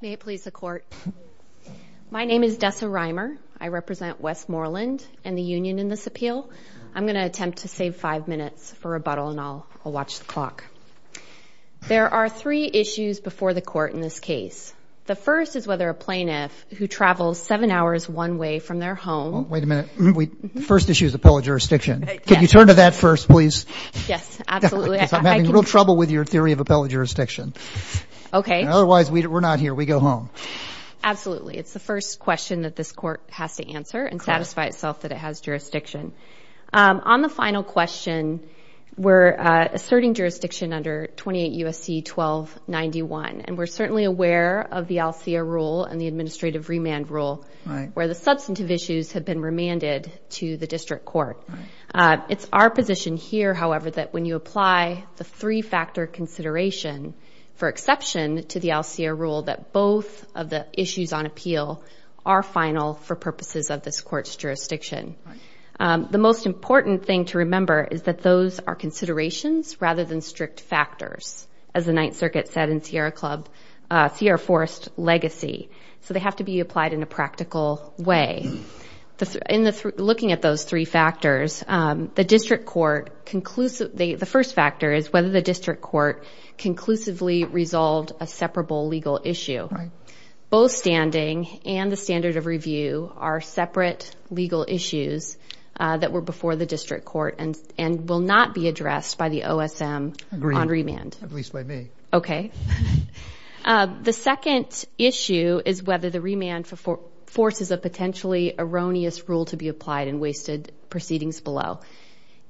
May it please the Court. My name is Dessa Reimer. I represent Westmoreland and the union in this appeal. I'm going to attempt to save five minutes for rebuttal, and I'll watch the clock. There are three issues before the Court in this case. The first is whether a issue is appellate jurisdiction. Can you turn to that first, please? Yes, absolutely. I'm having real trouble with your theory of appellate jurisdiction. Otherwise, we're not here. We go home. Absolutely. It's the first question that this Court has to answer and satisfy itself that it has jurisdiction. On the final question, we're asserting jurisdiction under 28 U.S.C. 1291, and we're certainly aware of the ALSEA rule and the administrative remand rule where the substantive issues have been remanded to the district court. It's our position here, however, that when you apply the three-factor consideration for exception to the ALSEA rule that both of the issues on appeal are final for purposes of this Court's jurisdiction. The most important thing to remember is that those are considerations rather than strict factors, as the Ninth Circuit said in Sierra Club, Sierra Forest legacy. So they have to be applied in a practical way. Looking at those three factors, the first factor is whether the district court conclusively resolved a separable legal issue. Both standing and the standard of review are separate legal issues that were before the district court and will not be addressed by the OSM on remand. Agreed, at least by me. Okay. The second issue is whether the remand forces a potentially erroneous rule to be applied in wasted proceedings below.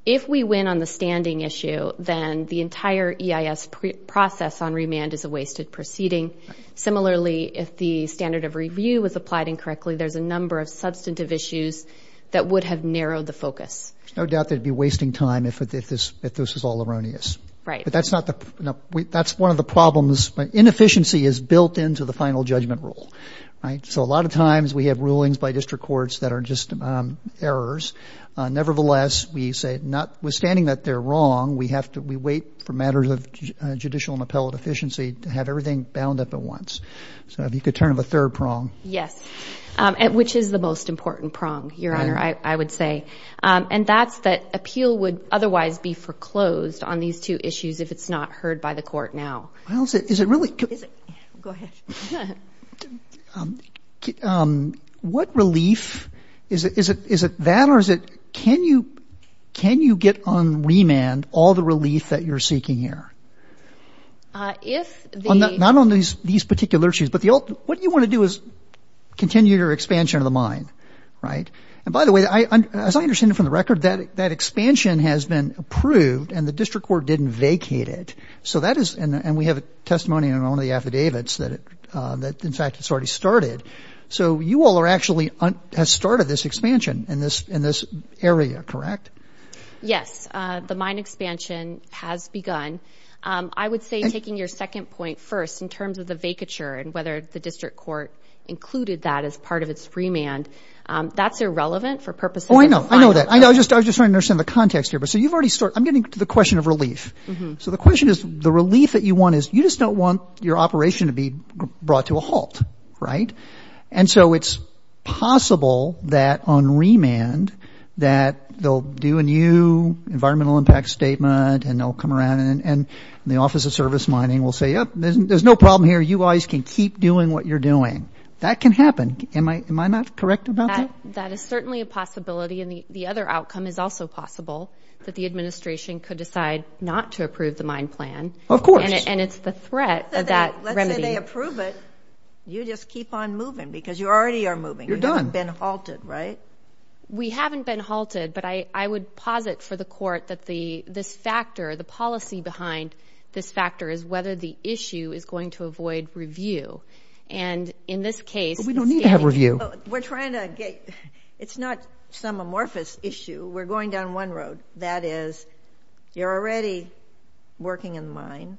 If we win on the standing issue, then the entire EIS process on remand is a wasted proceeding. Similarly, if the standard of review was applied incorrectly, there's a number of substantive issues that would have narrowed the focus. There's no doubt that it would be wasting time if this was all erroneous. Right. But that's one of the problems. Inefficiency is a lot of times we have rulings by district courts that are just errors. Nevertheless, we say notwithstanding that they're wrong, we have to we wait for matters of judicial and appellate efficiency to have everything bound up at once. So if you could turn the third prong. Yes. Which is the most important prong, Your Honor, I would say. And that's that appeal would otherwise be foreclosed on these two issues if it's not heard by the district court. What relief is it? Is it that or is it can you can you get on remand all the relief that you're seeking here? If not on these these particular issues, but the what you want to do is continue your expansion of the mine. Right. And by the way, as I understand it from the record, that that expansion has been approved and the district court didn't vacate it. So that is and we have a testimony in one of the affidavits that it that in fact it's already started. So you all are actually has started this expansion in this in this area, correct? Yes. The mine expansion has begun. I would say taking your second point first in terms of the vacature and whether the district court included that as part of its remand. That's irrelevant for purposes. I know that. I know. I just I just understand the context here. But so you've already started. I'm getting to the question of relief. So the question is, the relief that you want is you just don't want your operation to be brought to a halt. Right. And so it's possible that on remand that they'll do a new environmental impact statement and they'll come around and the Office of Service Mining will say, there's no problem here. You guys can keep doing what you're doing. That can happen. Am I am I not correct about that? That is certainly a possibility. And the other outcome is also possible that the administration could decide not to approve the mine plan. Of course. And it's the threat of that remedy. Let's say they approve it. You just keep on moving because you already are moving. You're done. You haven't been halted, right? We haven't been halted. But I I would posit for the court that the this factor, the policy behind this factor is whether the issue is going to avoid review. And in this case, we don't need to have review. We're trying to get it's not some amorphous issue. We're going down one road. That is, you're already working in line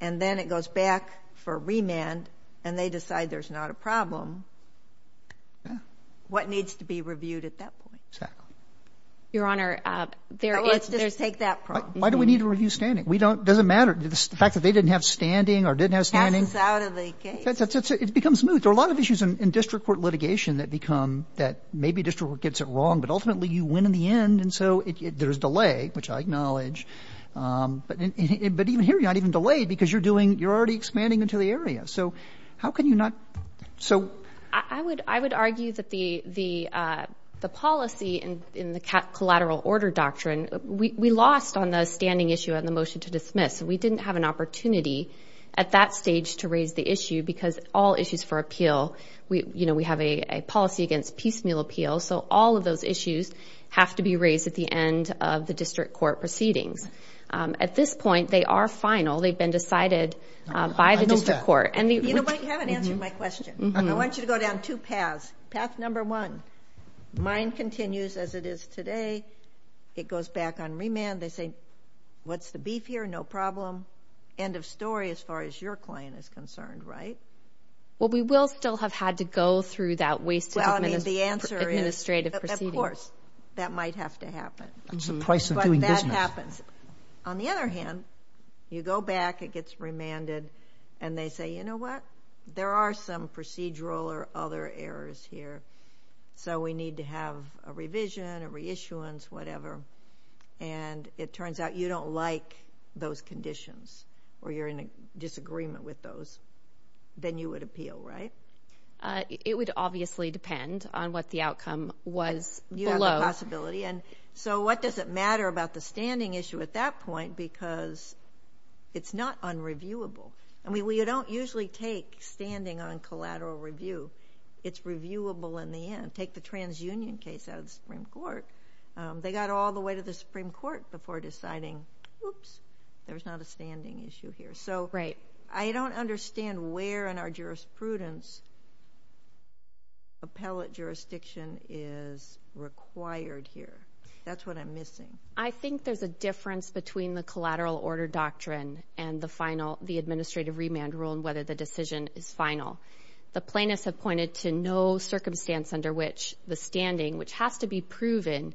and then it goes back for remand and they decide there's not a problem. What needs to be reviewed at that point? Exactly. Your Honor, there let's just take that. Why do we need to review standing? We don't doesn't matter. The fact that they didn't have standing or didn't have standing out of the case, it's it's it's it's become smooth. There are a lot of issues in district court litigation that become that maybe district gets it wrong, but ultimately you win in the end. And so there's delay, which I acknowledge. But even here, you're not even delayed because you're doing you're already expanding into the area. So how can you not? So I would I would argue that the the the policy and in the collateral order doctrine, we lost on the standing issue and the motion to dismiss. We didn't have an opportunity at that stage to raise the issue because all issues for appeal. So all of those issues have to be raised at the end of the district court proceedings. At this point, they are final. They've been decided by the district court. And you know, I haven't answered my question. I want you to go down two paths. Path number one, mine continues as it is today. It goes back on remand. They say, what's the beef here? No problem. End of story as far as your client is concerned, right? Well, we will still have had to go through that waste. Well, I mean, the answer is straight. Of course, that might have to happen. It's the price of doing business. On the other hand, you go back, it gets remanded and they say, you know what? There are some procedural or other errors here. So we need to have a revision, a reissuance, whatever. And it turns out you don't like those conditions or you're in a disagreement with those, then you would appeal, right? It would obviously depend on what the outcome was below. You have a possibility. And so what does it matter about the standing issue at that point? Because it's not unreviewable. I mean, we don't usually take standing on collateral review. It's reviewable in the end. Take the transunion case out of the Supreme Court. They got all the way to the Supreme Court before deciding, oops, there's not a standing issue here. So I don't understand where in our jurisprudence appellate jurisdiction is required here. That's what I'm missing. I think there's a difference between the collateral order doctrine and the final, the administrative remand rule and whether the decision is final. The plaintiffs have pointed to no circumstance under which the standing, which has to be purpose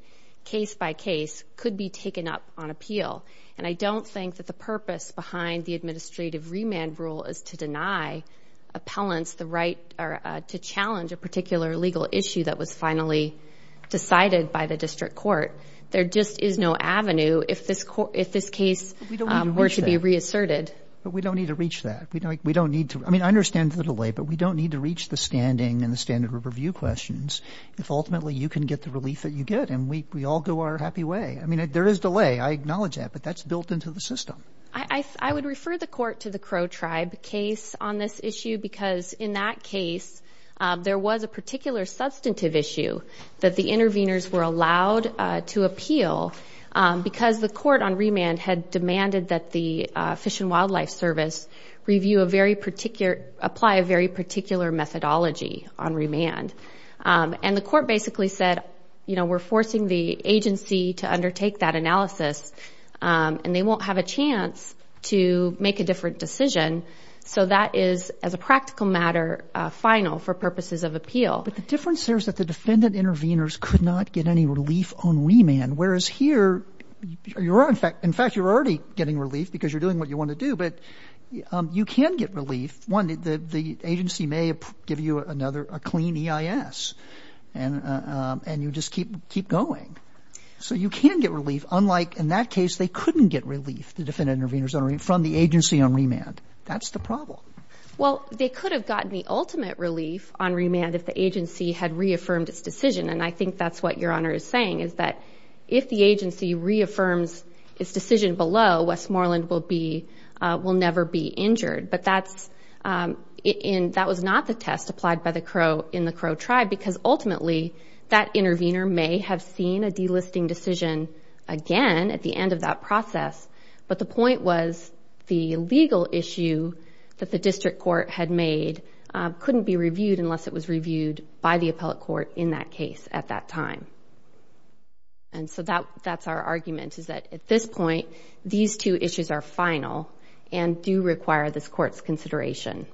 behind the administrative remand rule is to deny appellants the right to challenge a particular legal issue that was finally decided by the district court. There just is no avenue if this case were to be reasserted. We don't need to reach that. I mean, I understand the delay, but we don't need to reach the standing and the standard review questions if ultimately you can get the relief that you get. And we all go our happy way. I mean, there is delay. I acknowledge that. But that's built into the system. I would refer the court to the Crow Tribe case on this issue because in that case there was a particular substantive issue that the interveners were allowed to appeal because the court on remand had demanded that the Fish and Wildlife Service review a very particular, apply a very particular methodology on remand. And the court basically said, you know, we're forcing the agency to undertake that analysis, and they won't have a chance to make a different decision. So that is, as a practical matter, final for purposes of appeal. But the difference there is that the defendant interveners could not get any relief on remand, whereas here you're in fact, in fact, you're already getting relief because you're doing what you want to do. But you can get relief. One, the agency may give you another, a clean EIS, and you just keep going. So you can get relief. Unlike in that case, they couldn't get relief, the defendant interveners, from the agency on remand. That's the problem. Well, they could have gotten the ultimate relief on remand if the agency had reaffirmed its decision. And I think that's what Your Honor is saying, is that if the agency reaffirms its decision below, Westmoreland will be, will never be injured. But that's, that was not the test applied by the Crow in the Crow tribe, because ultimately, that intervener may have seen a delisting decision again at the end of that process. But the point was the legal issue that the district court had made couldn't be reviewed unless it was reviewed by the appellate court in that case at that time. And so that, that's our argument, is that at this point, these two issues are final and do require this court's consideration.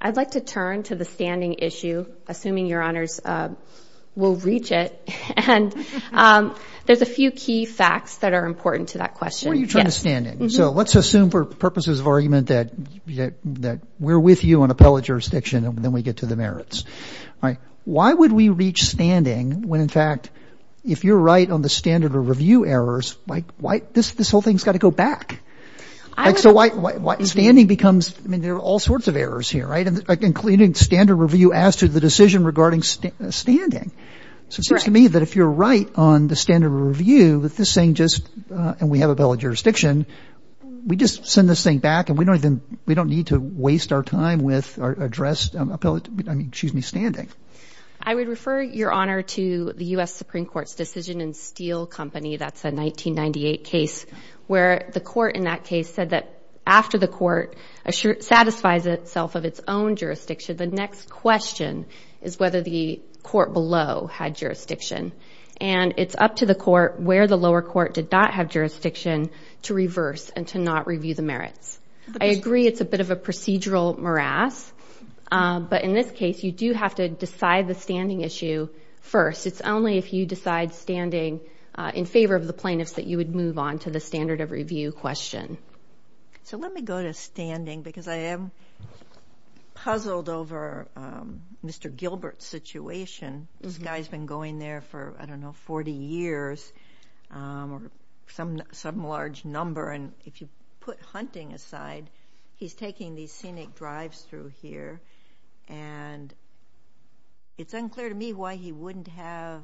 I'd like to turn to the standing issue, assuming Your Honors will reach it. And there's a few key facts that are important to that question. When you turn to standing, so let's assume for purposes of argument that we're with you on appellate jurisdiction, and then we get to the merits. Why would we reach standing when in fact, if you're right on the standard of review errors, like why, this whole thing's going to go back? So why, why standing becomes, I mean, there are all sorts of errors here, right? Including standard review as to the decision regarding standing. So it seems to me that if you're right on the standard of review with this thing, just, and we have appellate jurisdiction, we just send this thing back and we don't even, we don't need to waste our time with our addressed appellate, I mean, excuse me, standing. I would refer Your Honor to the U.S. Supreme Court's decision in Steele Company. That's a 1998 case where the court in that case said that after the court satisfies itself of its own jurisdiction, the next question is whether the court below had jurisdiction. And it's up to the court where the lower court did not have jurisdiction to reverse and to not review the merits. I agree it's a bit of a procedural morass. But in this case, you do have to decide the standing issue first. It's only if you decide standing in favor of the plaintiffs that you would move on to the standard of review question. So let me go to standing because I am puzzled over Mr. Gilbert's situation. This guy's been going there for, I don't know, 40 years or some large number. And if you put hunting aside, he's taking these scenic drives through here. And it's unclear to me why he wouldn't have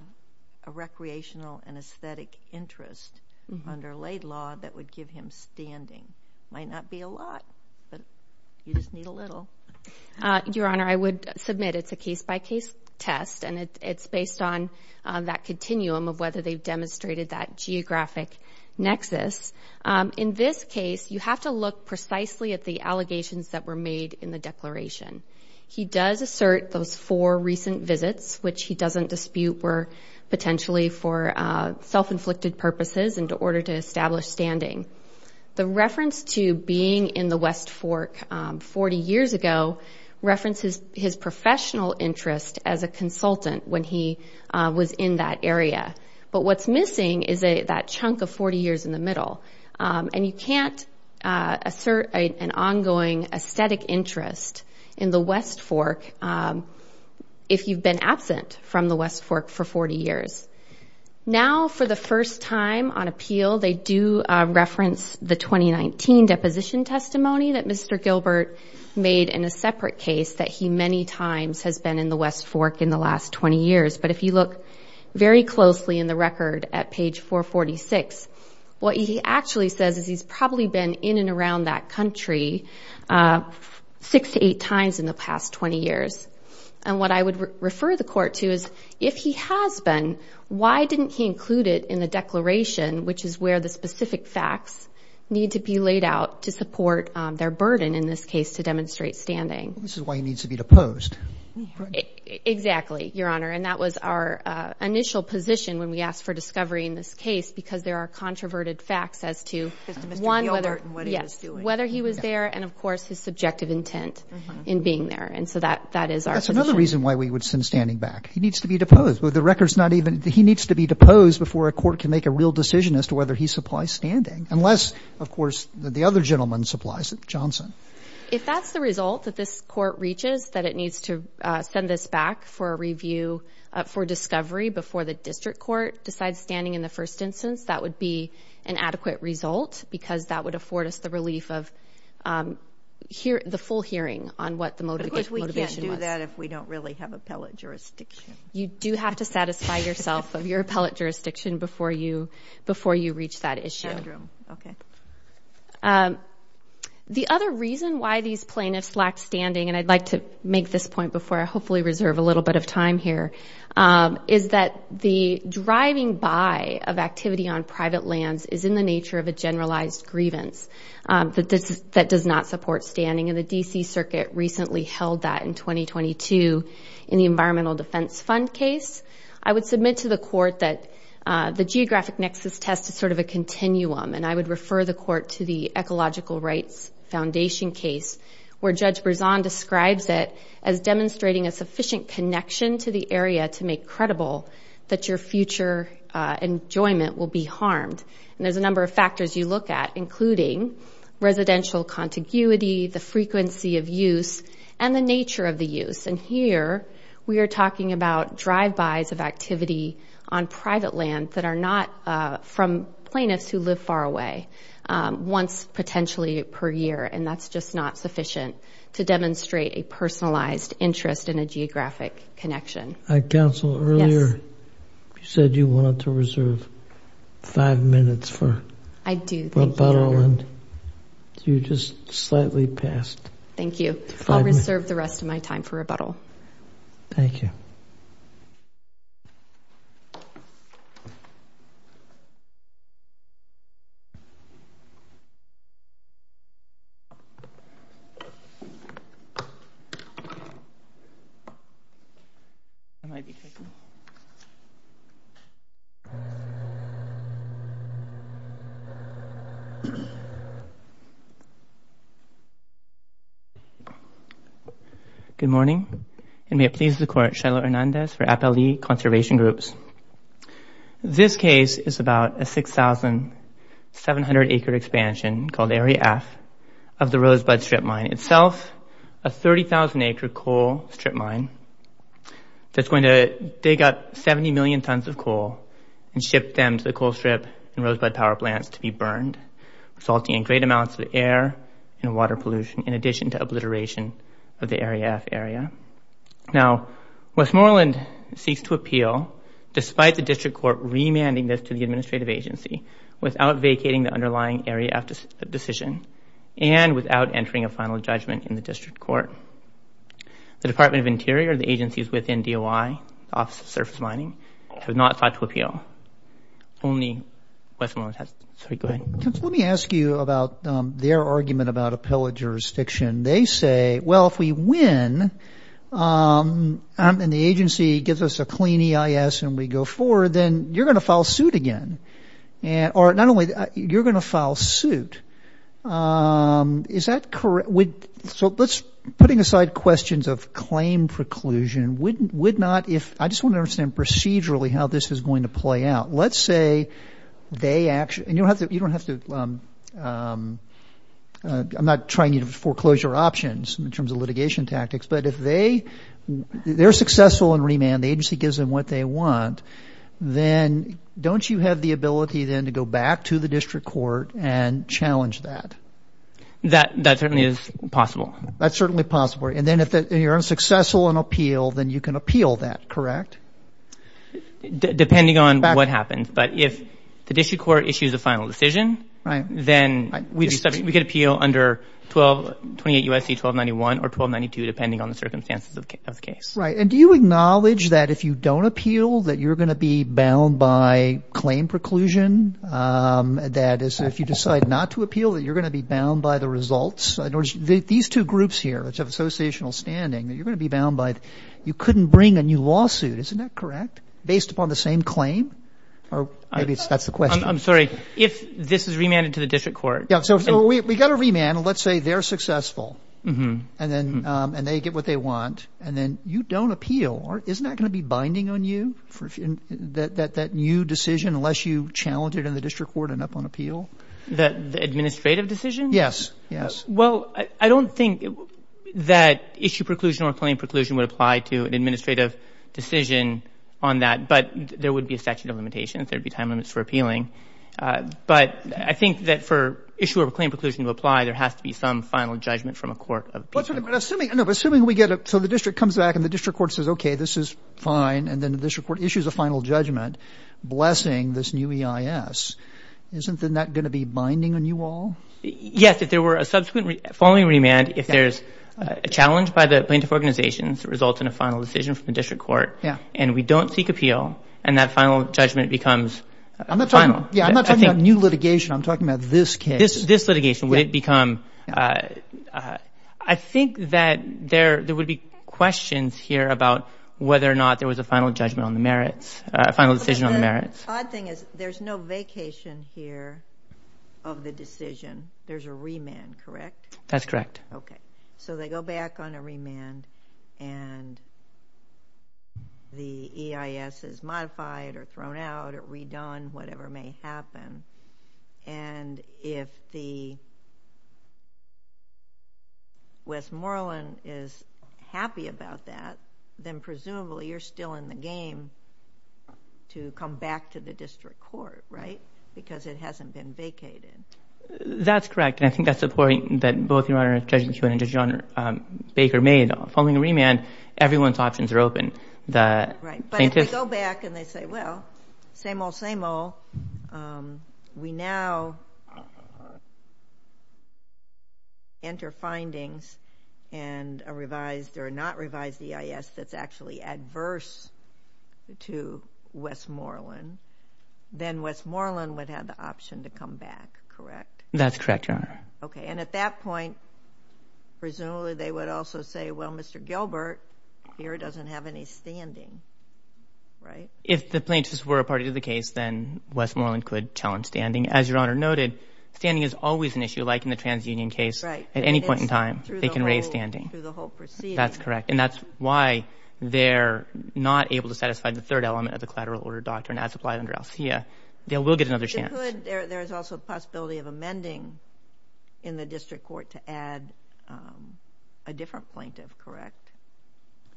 a recreational and aesthetic interest under laid law that would give him standing. Might not be a lot, but you just need a little. Your Honor, I would submit it's a case-by-case test and it's based on that continuum of whether they've demonstrated that geographic nexus. In this case, you have to look precisely at the allegations that were made in the declaration. He does assert those four recent visits, which he doesn't dispute were potentially for self-inflicted purposes in order to establish standing. The reference to being in the West Fork 40 years ago references his professional interest as a consultant when he was in that area. But what's missing is that chunk of 40 years in the middle. And you can't assert an ongoing aesthetic interest in the West Fork if you've been absent from the West Fork for 40 years. Now for the first time on appeal, they do reference the 2019 deposition testimony that Mr. Gilbert made in a separate case that he many times has been in the West Fork in the last 20 years. But if you look very closely in the record at page 446, what he actually says is he's probably been in and around that country six to eight times in the past 20 years. And what I would refer the court to is if he has been, why didn't he include it in the declaration, which is where the specific facts need to be laid out to support their burden in this case to demonstrate standing? This is why he needs to be deposed. Exactly, Your Honor. And that was our initial position when we asked for discovery in this case, because there are controverted facts as to, one, whether he was there and of course his subjective intent in being there. And so that is our position. That's another reason why we would send standing back. He needs to be deposed. The record's not even, he needs to be deposed before a court can make a real decision as to whether he supplies standing. Unless, of course, the other gentleman supplies it, Johnson. If that's the result that this court reaches, that it needs to send this back for review, for discovery before the district court decides standing in the first instance, that would be an adequate result because that would afford us the relief of the full hearing on what the motivation was. Of course we can't do that if we don't really have appellate jurisdiction. You do have to satisfy yourself of your appellate jurisdiction before you reach that issue. Okay. The other reason why these plaintiffs lack standing, and I'd like to make this point before I hopefully reserve a little bit of time here, is that the driving by of activity on private lands is in the nature of a generalized grievance that does not support standing. And the D.C. Circuit recently held that in 2022 in the Environmental Defense Fund case. I would submit to the court that the geographic nexus test is sort of a continuum, and I would refer the court to the Ecological Rights Foundation case where Judge Berzon describes it as demonstrating a sufficient connection to the area to make credible that your future enjoyment will be harmed. And there's a number of factors you look at, including residential contiguity, the frequency of use, and the nature of the use. And here we are talking about drive-bys of activity on private land that are not from plaintiffs who live far away, once potentially per year, and that's just not sufficient to interest in a geographic connection. Counsel, earlier you said you wanted to reserve five minutes for rebuttal, and you just slightly passed. Thank you. I'll reserve the rest of my time for rebuttal. Thank you. Good morning, and may it please the court, Shiloh Hernandez for Appellee Conservation Groups. This case is about a 6,700-acre expansion called Area F of the Rosebud Strip Mine itself, a 30,000-acre coal strip mine that's going to dig up 70 million tons of coal and ship them to the coal strip and rosebud power plants to be burned, resulting in great amounts of air and water pollution, in addition to obliteration of the Area F area. Now, Westmoreland seeks to appeal, despite the district court remanding this to the administrative agency, without vacating the underlying Area F decision and without entering a final judgment in the district court. The Department of Interior, the agencies within DOI, Office of Surface Mining, have not sought to appeal. Only Westmoreland has. Sorry, go ahead. Counsel, let me ask you about their argument about appellate jurisdiction. They say, well, if we win and the agency gives us a clean EIS and we go forward, then you're going to file suit again. Or not only that, you're going to file suit. Is that correct? So putting aside questions of claim preclusion, would not if, I just want to understand procedurally how this is going to play out. Let's say they actually, and you don't have to, I'm not trying you to foreclose your options in terms of litigation tactics, but if they're successful in remand, the agency gives them what they want, then don't you have the ability then to go back to the district court and challenge that? That certainly is possible. That's certainly possible. And then if you're unsuccessful in appeal, then you can appeal that, correct? Depending on what happens. But if the district court issues a final decision, then we could appeal under 1228 U.S.C. 1291 or 1292, depending on the circumstances of the case. Right. And do you acknowledge that if you don't appeal, that you're going to be bound by claim preclusion? That is, if you decide not to appeal, that you're going to be bound by the results? These two groups here, which have associational standing, that you're going to be bound by, you couldn't bring a new lawsuit. Isn't that correct? Based upon the same claim? Or maybe that's the question. I'm sorry. If this is remanded to the district court. Yeah. So we got a remand. And let's say they're successful and then and they get what they want. And then you don't appeal. Or isn't that going to be binding on you for that new decision, unless you challenge it in the district court and up on appeal? The administrative decision? Yes. Yes. Well, I don't think that issue preclusion or claim preclusion would apply to an administrative decision on that. But there would be a statute of limitations. There'd be time limits for appealing. But I think that for issue or claim preclusion to apply, there has to be some final judgment from a court of appeal. But assuming we get it. So the district comes back and the district court says, OK, this is fine. And then the district court issues a final judgment blessing this new EIS. Isn't that going to be binding on you all? Yes. If there were a subsequent following remand, if there's a challenge by the plaintiff organizations that results in a final decision from the district court. Yeah. And we don't seek appeal. And that final judgment becomes final. Yeah. I'm not talking about new litigation. I'm talking about this case. This litigation would become. I think that there would be questions here about whether or not there was a final judgment on the merits, a final decision on the merits. The odd thing is there's no vacation here of the decision. There's a remand, correct? That's correct. OK. So they go back on a remand and. The EIS is modified or thrown out or redone, whatever may happen, and if the. Westmoreland is happy about that, then presumably you're still in the game to come back to the district court, right? Because it hasn't been vacated. That's correct. And I think that's the point that both your Honor Judge McEwen and Judge John Baker made following a remand. Everyone's options are open. Right. But if we go back and they say, well, same old, same old. We now. Enter findings and a revised or not revised EIS that's actually adverse to Westmoreland, then Westmoreland would have the option to come back, correct? OK. And at that point, presumably they would also say, well, Mr. Gilbert here doesn't have any standing, right? If the plaintiffs were a part of the case, then Westmoreland could challenge standing. As your Honor noted, standing is always an issue, like in the TransUnion case. Right. At any point in time, they can raise standing through the whole proceeding. That's correct. And that's why they're not able to satisfy the third element of the collateral order doctrine as applied under ALSEA. They will get another chance. There is also a possibility of amending in the district court to add a different plaintiff, correct?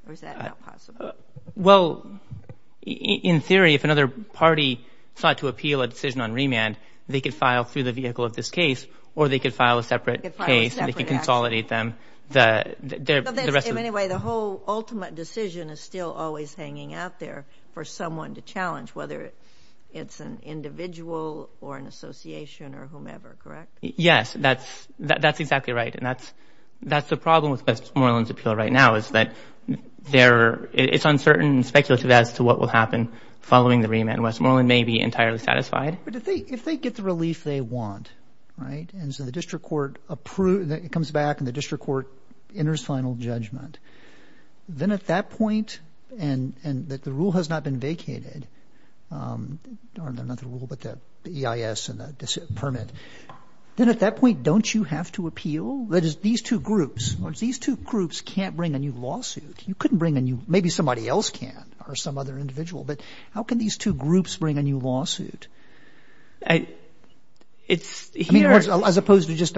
Or is that not possible? Well, in theory, if another party sought to appeal a decision on remand, they could file through the vehicle of this case or they could file a separate case and they could consolidate them. But anyway, the whole ultimate decision is still always hanging out there for someone to challenge, whether it's an individual or an association or whomever, correct? Yes, that's that's exactly right. And that's that's the problem with Westmoreland's appeal right now, is that it's uncertain and speculative as to what will happen following the remand. Westmoreland may be entirely satisfied. But if they get the relief they want, right. And so the district court comes back and the district court enters final judgment. Then at that point, and that the rule has not been vacated, not the rule, but the EIS and the permit, then at that point, don't you have to appeal? That is, these two groups, these two groups can't bring a new lawsuit. You couldn't bring a new, maybe somebody else can or some other individual. But how can these two groups bring a new lawsuit? I mean, as opposed to just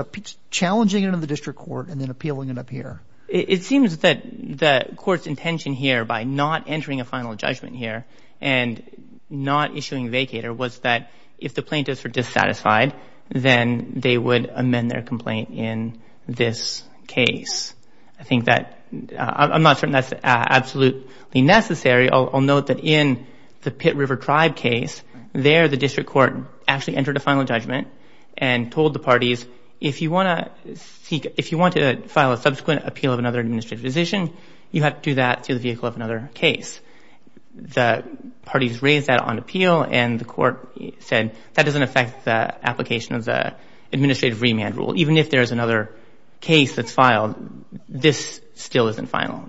challenging it in the district court and then appealing it up here. It seems that the court's intention here, by not entering a final judgment here and not issuing a vacator, was that if the plaintiffs were dissatisfied, then they would amend their complaint in this case. I think that I'm not certain that's absolutely necessary. I'll note that in the Pitt River Tribe case, there the district court actually entered a final judgment and told the parties, if you want to seek, if you want to file a subsequent appeal of another administrative decision, you have to do that through the vehicle of another case. The parties raised that on appeal and the court said that doesn't affect the application of the administrative remand rule. Even if there is another case that's filed, this still isn't final.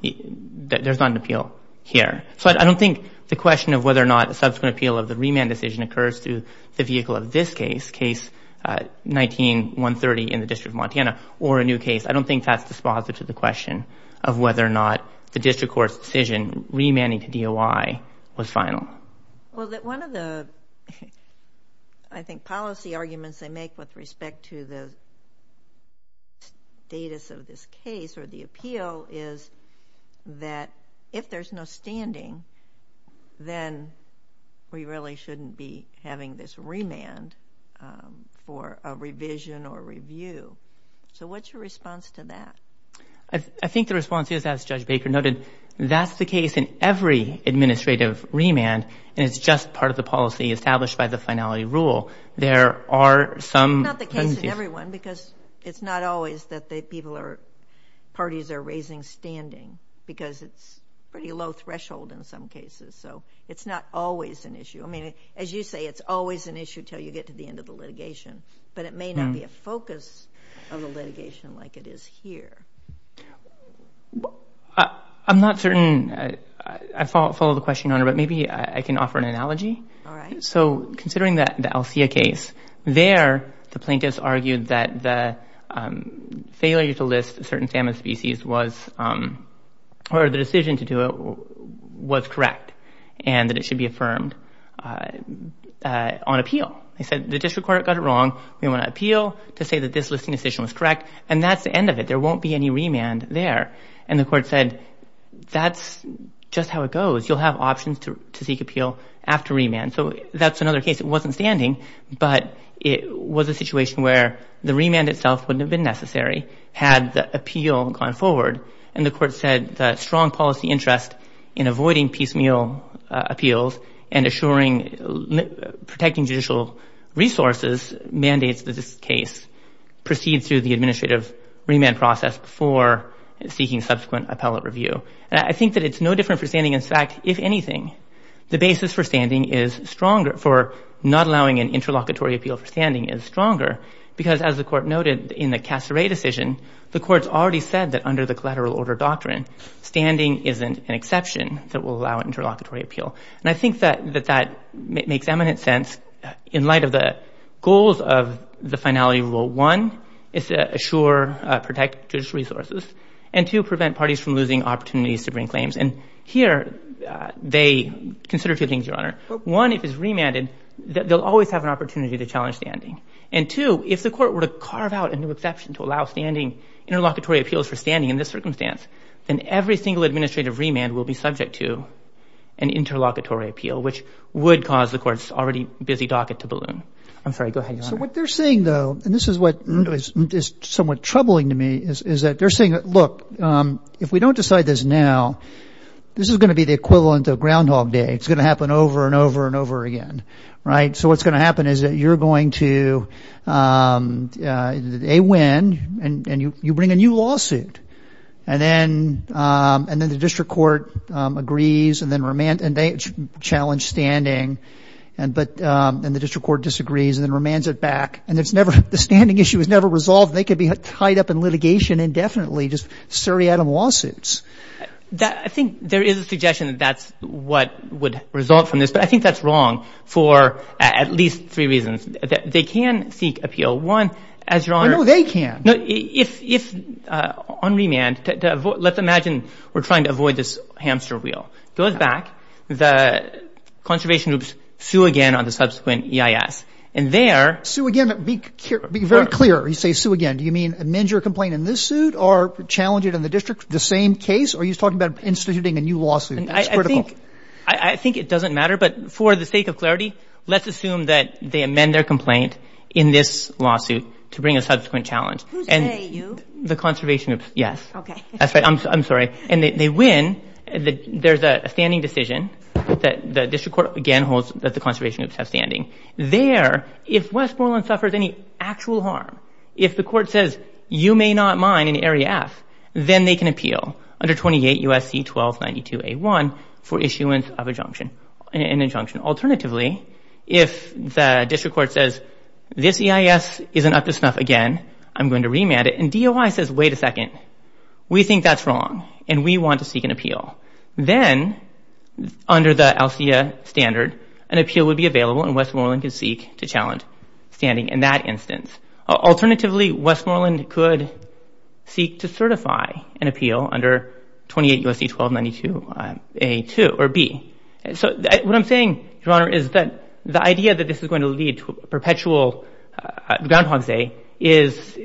There's not an appeal here. So I don't think the question of whether or not a subsequent appeal of the remand decision occurs through the vehicle of this case, case 19-130 in the District of Montana, or a new case, I don't think that's dispositive to the question of whether or not the district court's decision remanding to DOI was final. Well, one of the, I think, policy arguments they make with respect to the status of this case or the appeal is that if there's no standing, then we really shouldn't be having this remand for a revision or review. So what's your response to that? I think the response is, as Judge Baker noted, that's the case in every administrative remand and it's just part of the policy established by the finality rule. There are some... It's not the case in every one because it's not always that the people are, parties are raising standing because it's pretty low threshold in some cases. I mean, as you say, it's always an issue until you get to the end of the litigation, but it may not be a focus of the litigation like it is here. I'm not certain I follow the question, Honor, but maybe I can offer an analogy. All right. So considering the Alcea case, there the plaintiffs argued that the failure to list certain salmon species was, or the decision to do it was correct and that it should be affirmed on appeal. They said the district court got it wrong. We want to appeal to say that this listing decision was correct and that's the end of it. There won't be any remand there. And the court said, that's just how it goes. You'll have options to seek appeal after remand. So that's another case. It wasn't standing, but it was a situation where the remand itself wouldn't have been necessary had the appeal gone forward. And the court said that strong policy interest in avoiding piecemeal appeals and assuring, protecting judicial resources mandates that this case proceed through the administrative remand process before seeking subsequent appellate review. I think that it's no different for standing. In fact, if anything, the basis for standing is stronger, for not allowing an interlocutory appeal for standing is stronger because, as the court noted in the Casseray decision, the court's already said that under the collateral order doctrine, standing isn't an exception that will allow interlocutory appeal. And I think that that makes eminent sense in light of the goals of the finality rule. One, is to assure, protect judicial resources. And two, prevent parties from losing opportunities to bring claims. And here, they consider two things, Your Honor. One, if it's remanded, they'll always have an opportunity to challenge standing. And two, if the court were to carve out a new exception to allow standing, interlocutory appeals for standing in this circumstance, then every single administrative remand will be subject to an interlocutory appeal, which would cause the court's already busy docket to balloon. I'm sorry, go ahead, Your Honor. So what they're saying, though, and this is what is somewhat troubling to me, is that they're saying, look, if we don't decide this now, this is going to be the equivalent of Groundhog Day. It's going to happen over and over and over again, right? So what's going to happen is that you're going to, A, win, and you bring a new lawsuit. And then the district court agrees, and they challenge standing, and the district court disagrees, and then remands it back. And it's never, the standing issue is never resolved. They could be tied up in litigation indefinitely, just seriatim lawsuits. I think there is a suggestion that that's what would result from this, but I think that's wrong for at least three reasons. They can seek appeal. One, as Your Honor. No, they can't. No, if on remand, let's imagine we're trying to avoid this hamster wheel. Goes back, the conservation groups sue again on the subsequent EIS. And there- Sue again, but be very clear. You say sue again. Do you mean amend your complaint in this suit or challenge it in the district, the same case? Or are you talking about instituting a new lawsuit? That's critical. I think it doesn't matter, but for the sake of clarity, let's assume that they amend their complaint in this lawsuit to bring a subsequent challenge. Who's they, you? The conservation groups, yes. Okay. That's right. I'm sorry. And they win. There's a standing decision that the district court, again, holds that the conservation groups have standing. There, if Westmoreland suffers any actual harm, if the court says you may not mine in Area F, then they can appeal under 28 U.S.C. 1292A1 for issuance of an injunction. Alternatively, if the district court says this EIS isn't up to snuff again, I'm going to remand it. And DOI says, wait a second. We think that's wrong, and we want to seek an appeal. Then, under the ALSEA standard, an appeal would be available, and Westmoreland could seek to challenge standing in that instance. Alternatively, Westmoreland could seek to certify an appeal under 28 U.S.C. 1292A2 or B. So what I'm saying, Your Honor, is that the idea that this is going to lead to perpetual groundhogs day is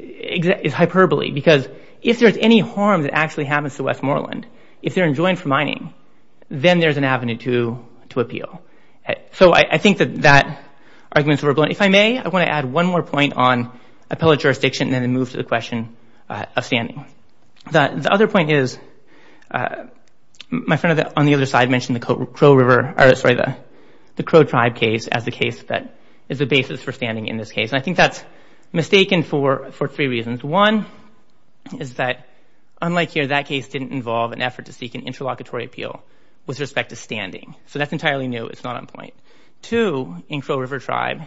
hyperbole. Because if there's any harm that actually happens to Westmoreland, if they're enjoined for mining, then there's an avenue to appeal. So I think that that argument's overblown. If I may, I want to add one more point on appellate jurisdiction and then move to the question of standing. The other point is, my friend on the other side mentioned the Crow Tribe case as the case that is the basis for standing in this case. And I think that's mistaken for three reasons. One is that, unlike here, that case didn't involve an effort to seek an interlocutory appeal with respect to standing. So that's entirely new. It's not on point. Two, in Crow River Tribe,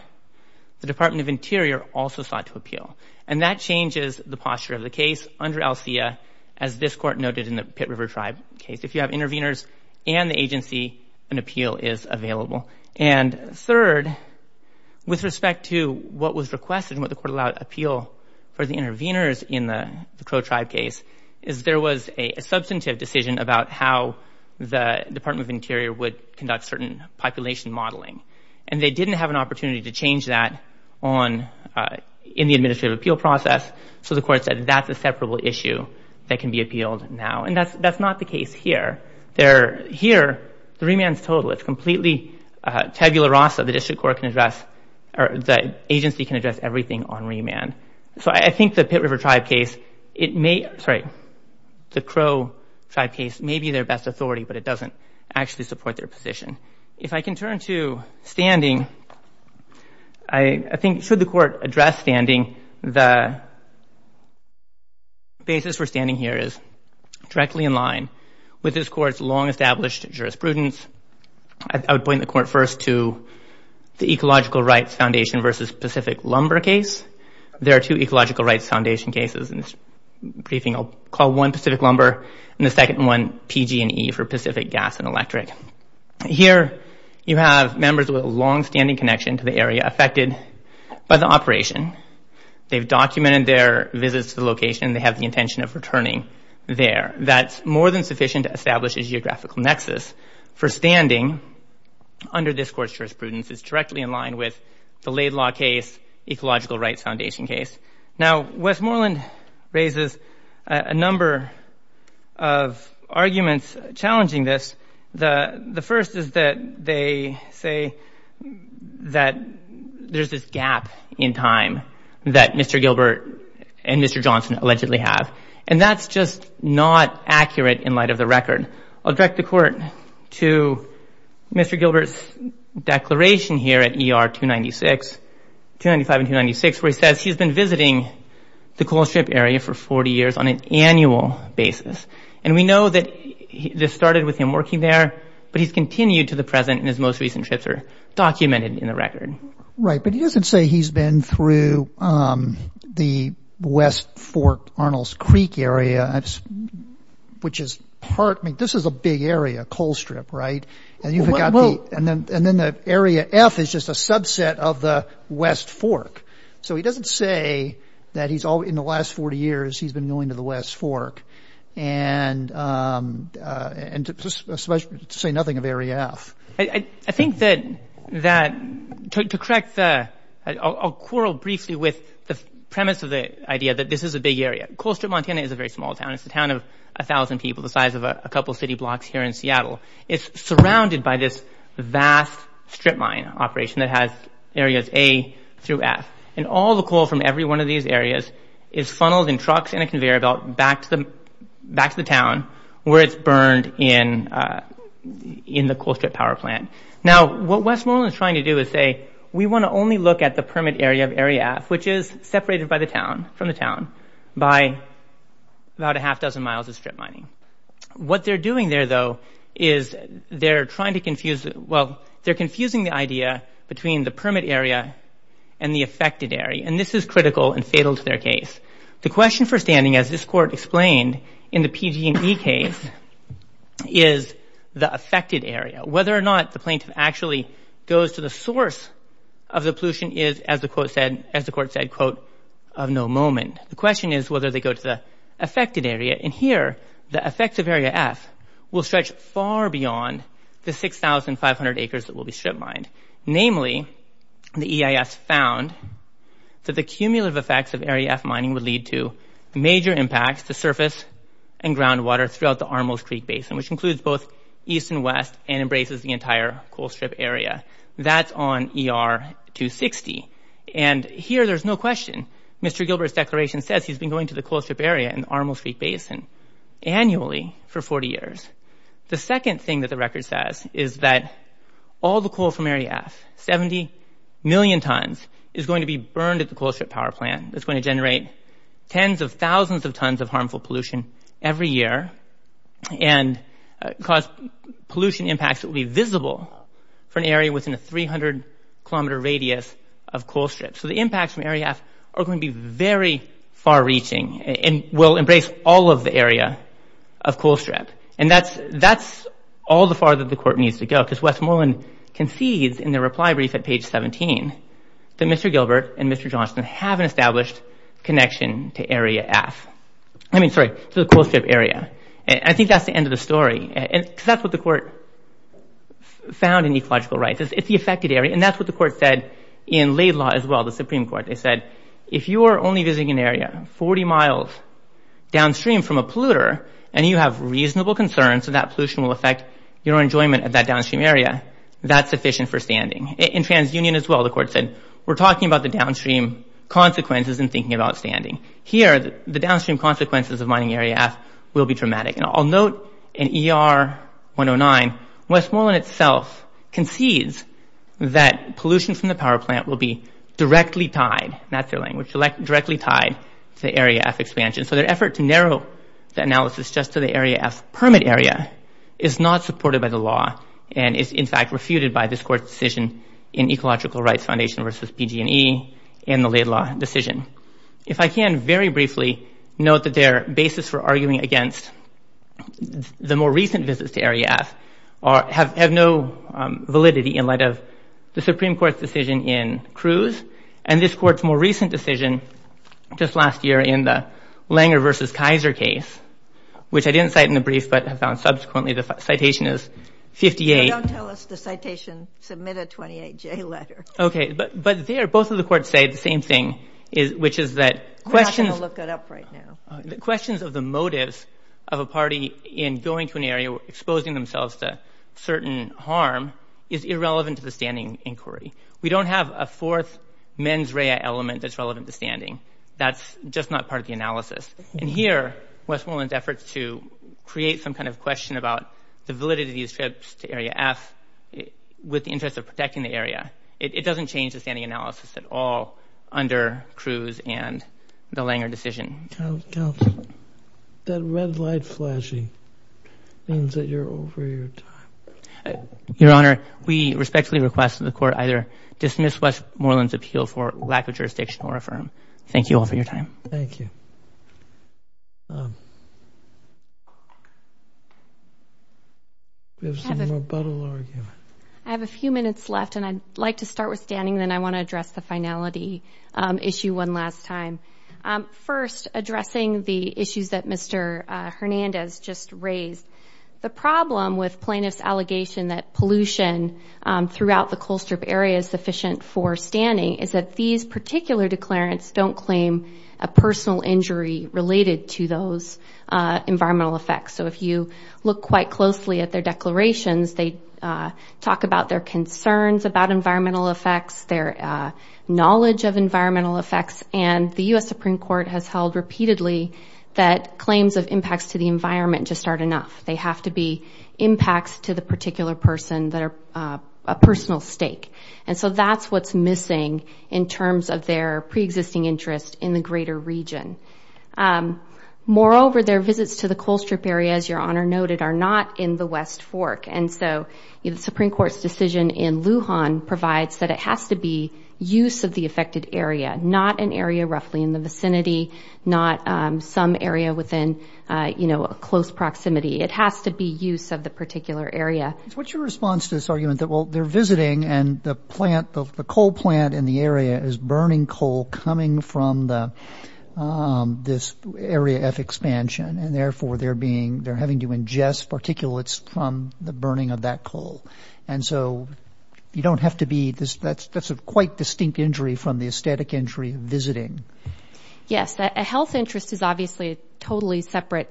the Department of Interior also sought to appeal. And that changes the posture of the case under ALSEA, as this Court noted in the Pit River Tribe case. If you have intervenors and the agency, an appeal is available. And third, with respect to what was requested and what the Court allowed appeal for the intervenors in the Crow Tribe case, is there was a substantive decision about how the Department of Interior would conduct certain population modeling. And they didn't have an opportunity to change that in the administrative appeal process. So the Court said that's a separable issue that can be appealed now. And that's not the case here. Here, the remand's total. It's completely tabula rasa. The agency can address everything on remand. So I think the Pit River Tribe case, sorry, the Crow Tribe case may be their best authority, but it doesn't actually support their position. If I can turn to standing, I think should the Court address standing, the basis for standing here is directly in line with this Court's long-established jurisprudence. I would point the Court first to the Ecological Rights Foundation versus Pacific Lumber case. There are two Ecological Rights Foundation cases in this briefing. I'll call one Pacific Lumber and the second one PG&E for Pacific Gas and Electric. Here, you have members with a long-standing connection to the area affected by the operation. They've documented their visits to the location. They have the intention of returning there. That's more than sufficient to establish a geographical nexus for standing under this Court's jurisprudence. It's directly in line with the Laid Law case, Ecological Rights Foundation case. Now, Westmoreland raises a number of arguments challenging this. The first is that they say that there's this gap in time that Mr. Gilbert and Mr. Johnson allegedly have. And that's just not accurate in light of the record. I'll direct the Court to Mr. Gilbert's declaration here at ER 295 and 296, where he says he's been visiting the Coal Strip area for 40 years on an annual basis. And we know that this started with him working there, but he's continued to the present and his most recent trips are documented in the record. Right, but he doesn't say he's been through the West Fork, Arnold's Creek area, which is part – I mean, this is a big area, Coal Strip, right? And you've got the – and then the area F is just a subset of the West Fork. So he doesn't say that he's – in the last 40 years, he's been going to the West Fork. And to say nothing of area F. I think that – to correct the – I'll quarrel briefly with the premise of the idea that this is a big area. Coal Strip, Montana, is a very small town. It's a town of 1,000 people the size of a couple city blocks here in Seattle. It's surrounded by this vast strip mine operation that has areas A through F. And all the coal from every one of these areas is funneled in trucks and a conveyor belt back to the town where it's burned in the Coal Strip power plant. Now, what Westmoreland is trying to do is say, we want to only look at the permit area of area F, which is separated by the town – from the town by about a half-dozen miles of strip mining. What they're doing there, though, is they're trying to confuse – well, they're confusing the idea between the permit area and the affected area. And this is critical and fatal to their case. The question for standing, as this court explained in the PG&E case, is the affected area. Whether or not the plaintiff actually goes to the source of the pollution is, as the court said, quote, of no moment. The question is whether they go to the affected area. And here, the effects of area F will stretch far beyond the 6,500 acres that will be strip mined. Namely, the EIS found that the cumulative effects of area F mining would lead to major impacts to surface and groundwater throughout the Armles Creek Basin, which includes both east and west and embraces the entire Coal Strip area. That's on ER 260. And here, there's no question. Mr. Gilbert's declaration says he's been going to the Coal Strip area in the Armles Creek Basin annually for 40 years. The second thing that the record says is that all the coal from area F, 70 million tons, is going to be burned at the Coal Strip power plant. It's going to generate tens of thousands of tons of harmful pollution every year and cause pollution impacts that will be visible for an area within a 300-kilometer radius of Coal Strip. So the impacts from area F are going to be very far-reaching and will embrace all of the area of Coal Strip. And that's all the farther the court needs to go because Westmoreland concedes in their reply brief at page 17 that Mr. Gilbert and Mr. Johnston have an established connection to area F. I mean, sorry, to the Coal Strip area. And I think that's the end of the story because that's what the court found in ecological rights. It's the affected area, and that's what the court said in Laidlaw as well, the Supreme Court. They said, if you are only visiting an area 40 miles downstream from a polluter and you have reasonable concerns that that pollution will affect your enjoyment of that downstream area, that's sufficient for standing. In TransUnion as well, the court said, we're talking about the downstream consequences in thinking about standing. Here, the downstream consequences of mining area F will be dramatic. And I'll note in ER 109, Westmoreland itself concedes that pollution from the power plant will be directly tied, that's their language, directly tied to area F expansion. So their effort to narrow the analysis just to the area F permit area is not supported by the law and is, in fact, refuted by this court's decision in ecological rights foundation versus PG&E and the Laidlaw decision. If I can very briefly note that their basis for arguing against the more recent visits to area F have no validity in light of the Supreme Court's decision in Cruz and this court's more recent decision just last year in the Langer versus Kaiser case, which I didn't cite in the brief but have found subsequently, the citation is 58. Don't tell us the citation submitted 28J letter. Okay, but there, both of the courts say the same thing, which is that questions... We're not going to look it up right now. The questions of the motives of a party in going to an area exposing themselves to certain harm is irrelevant to the standing inquiry. We don't have a fourth mens rea element that's relevant to standing. That's just not part of the analysis. And here, Westmoreland's efforts to create some kind of question about the validity of these trips to area F with the interest of protecting the area, it doesn't change the standing analysis at all under Cruz and the Langer decision. Counsel, that red light flashing means that you're over your time. Your Honor, we respectfully request that the court either dismiss Westmoreland's appeal for lack of jurisdiction or affirm. Thank you all for your time. Thank you. We have some rebuttal argument. I have a few minutes left, and I'd like to start with Danny, and then I want to address the finality issue one last time. First, addressing the issues that Mr. Hernandez just raised. The problem with plaintiff's allegation that pollution throughout the coal strip area is sufficient for standing is that these particular declarants don't claim a personal injury related to those environmental effects. So if you look quite closely at their declarations, they talk about their concerns about environmental effects, their knowledge of environmental effects, and the U.S. Supreme Court has held repeatedly that claims of impacts to the environment just aren't enough. They have to be impacts to the particular person that are a personal stake, and so that's what's missing in terms of their preexisting interest in the greater region. Moreover, their visits to the coal strip area, as Your Honor noted, are not in the West Fork, and so the Supreme Court's decision in Lujan provides that it has to be use of the affected area, not an area roughly in the vicinity, not some area within, you know, close proximity. It has to be use of the particular area. What's your response to this argument that, well, they're visiting, and the coal plant in the area is burning coal coming from this Area F expansion, and therefore they're having to ingest particulates from the burning of that coal. And so you don't have to be, that's a quite distinct injury from the aesthetic injury of visiting. Yes, a health interest is obviously a totally separate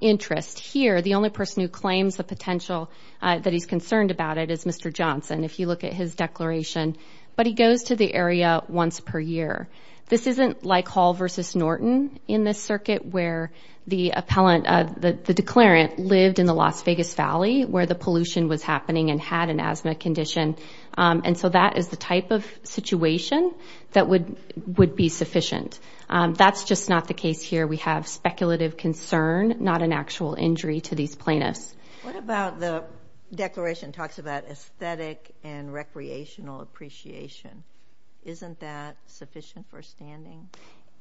interest. Here, the only person who claims the potential that he's concerned about it is Mr. Johnson, if you look at his declaration, but he goes to the area once per year. This isn't like Hall v. Norton in this circuit, where the appellant, the declarant, lived in the Las Vegas Valley, where the pollution was happening and had an asthma condition. And so that is the type of situation that would be sufficient. That's just not the case here. We have speculative concern, not an actual injury to these plaintiffs. What about the declaration that talks about aesthetic and recreational appreciation? Isn't that sufficient for standing?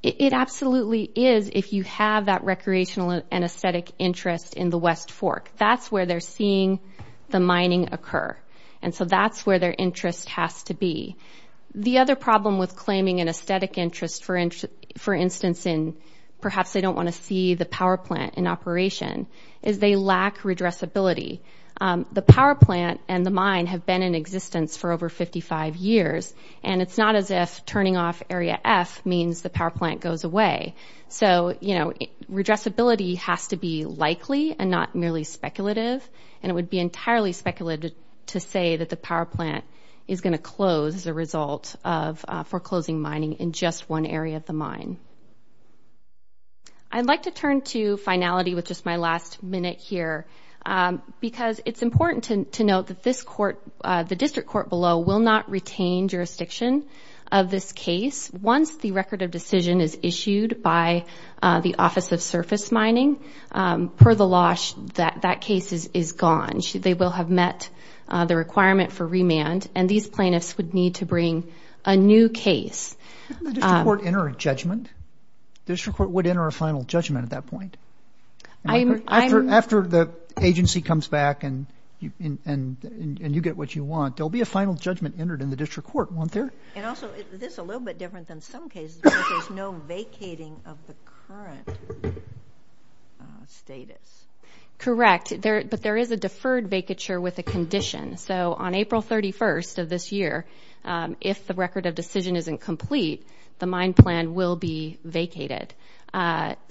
It absolutely is if you have that recreational and aesthetic interest in the West Fork. That's where they're seeing the mining occur, and so that's where their interest has to be. The other problem with claiming an aesthetic interest, for instance, in perhaps they don't want to see the power plant in operation, is they lack redressability. The power plant and the mine have been in existence for over 55 years, and it's not as if turning off Area F means the power plant goes away. So, you know, redressability has to be likely and not merely speculative, and it would be entirely speculative to say that the power plant is going to close as a result of foreclosing mining in just one area of the mine. I'd like to turn to finality with just my last minute here, because it's important to note that this court, the district court below, will not retain jurisdiction of this case. Once the record of decision is issued by the Office of Surface Mining, per the law, that case is gone. They will have met the requirement for remand, and these plaintiffs would need to bring a new case. Doesn't the district court enter a judgment? The district court would enter a final judgment at that point. After the agency comes back and you get what you want, there will be a final judgment entered in the district court, won't there? And also, this is a little bit different than some cases, because there's no vacating of the current status. Correct, but there is a deferred vacature with a condition. So on April 31st of this year, if the record of decision isn't complete, the mine plan will be vacated.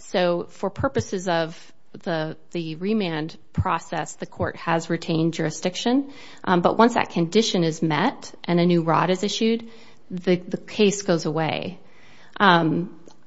So for purposes of the remand process, the court has retained jurisdiction. But once that condition is met and a new rod is issued, the case goes away.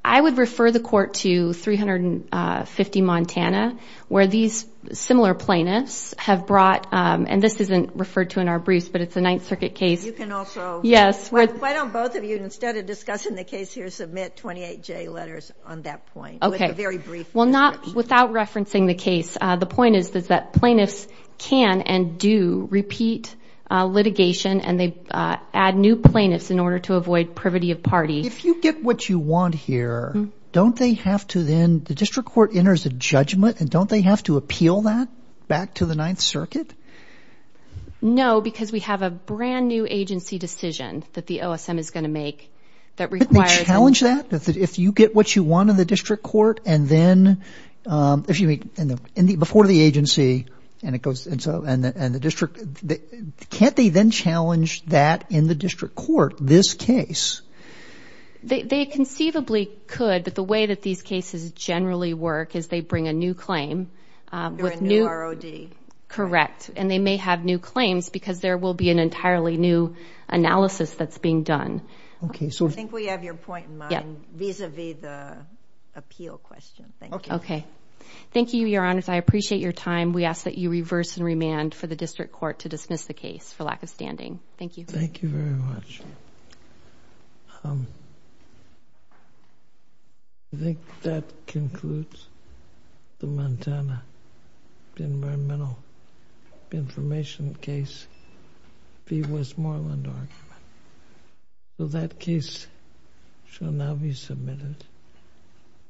I would refer the court to 350 Montana, where these similar plaintiffs have brought, and this isn't referred to in our briefs, but it's a Ninth Circuit case. You can also. Yes. Why don't both of you, instead of discussing the case here, submit 28J letters on that point? Okay. It's a very brief reference. Well, not without referencing the case. The point is that plaintiffs can and do repeat litigation, and they add new plaintiffs in order to avoid privity of party. If you get what you want here, don't they have to then – the district court enters a judgment, and don't they have to appeal that back to the Ninth Circuit? No, because we have a brand-new agency decision that the OSM is going to make that requires – But they challenge that? If you get what you want in the district court, and then – if you meet before the agency, and it goes – and the district – can't they then challenge that in the district court, this case? They conceivably could, but the way that these cases generally work is they bring a new claim with new – They're a new ROD. Correct, and they may have new claims because there will be an entirely new analysis that's being done. Okay, so – I think we have your point in mind vis-à-vis the appeal question. Thank you. Okay. Thank you, Your Honors. I appreciate your time. We ask that you reverse and remand for the district court to dismiss the case for lack of standing. Thank you. Thank you very much. I think that concludes the Montana environmental information case v. Westmoreland argument. So that case shall now be submitted.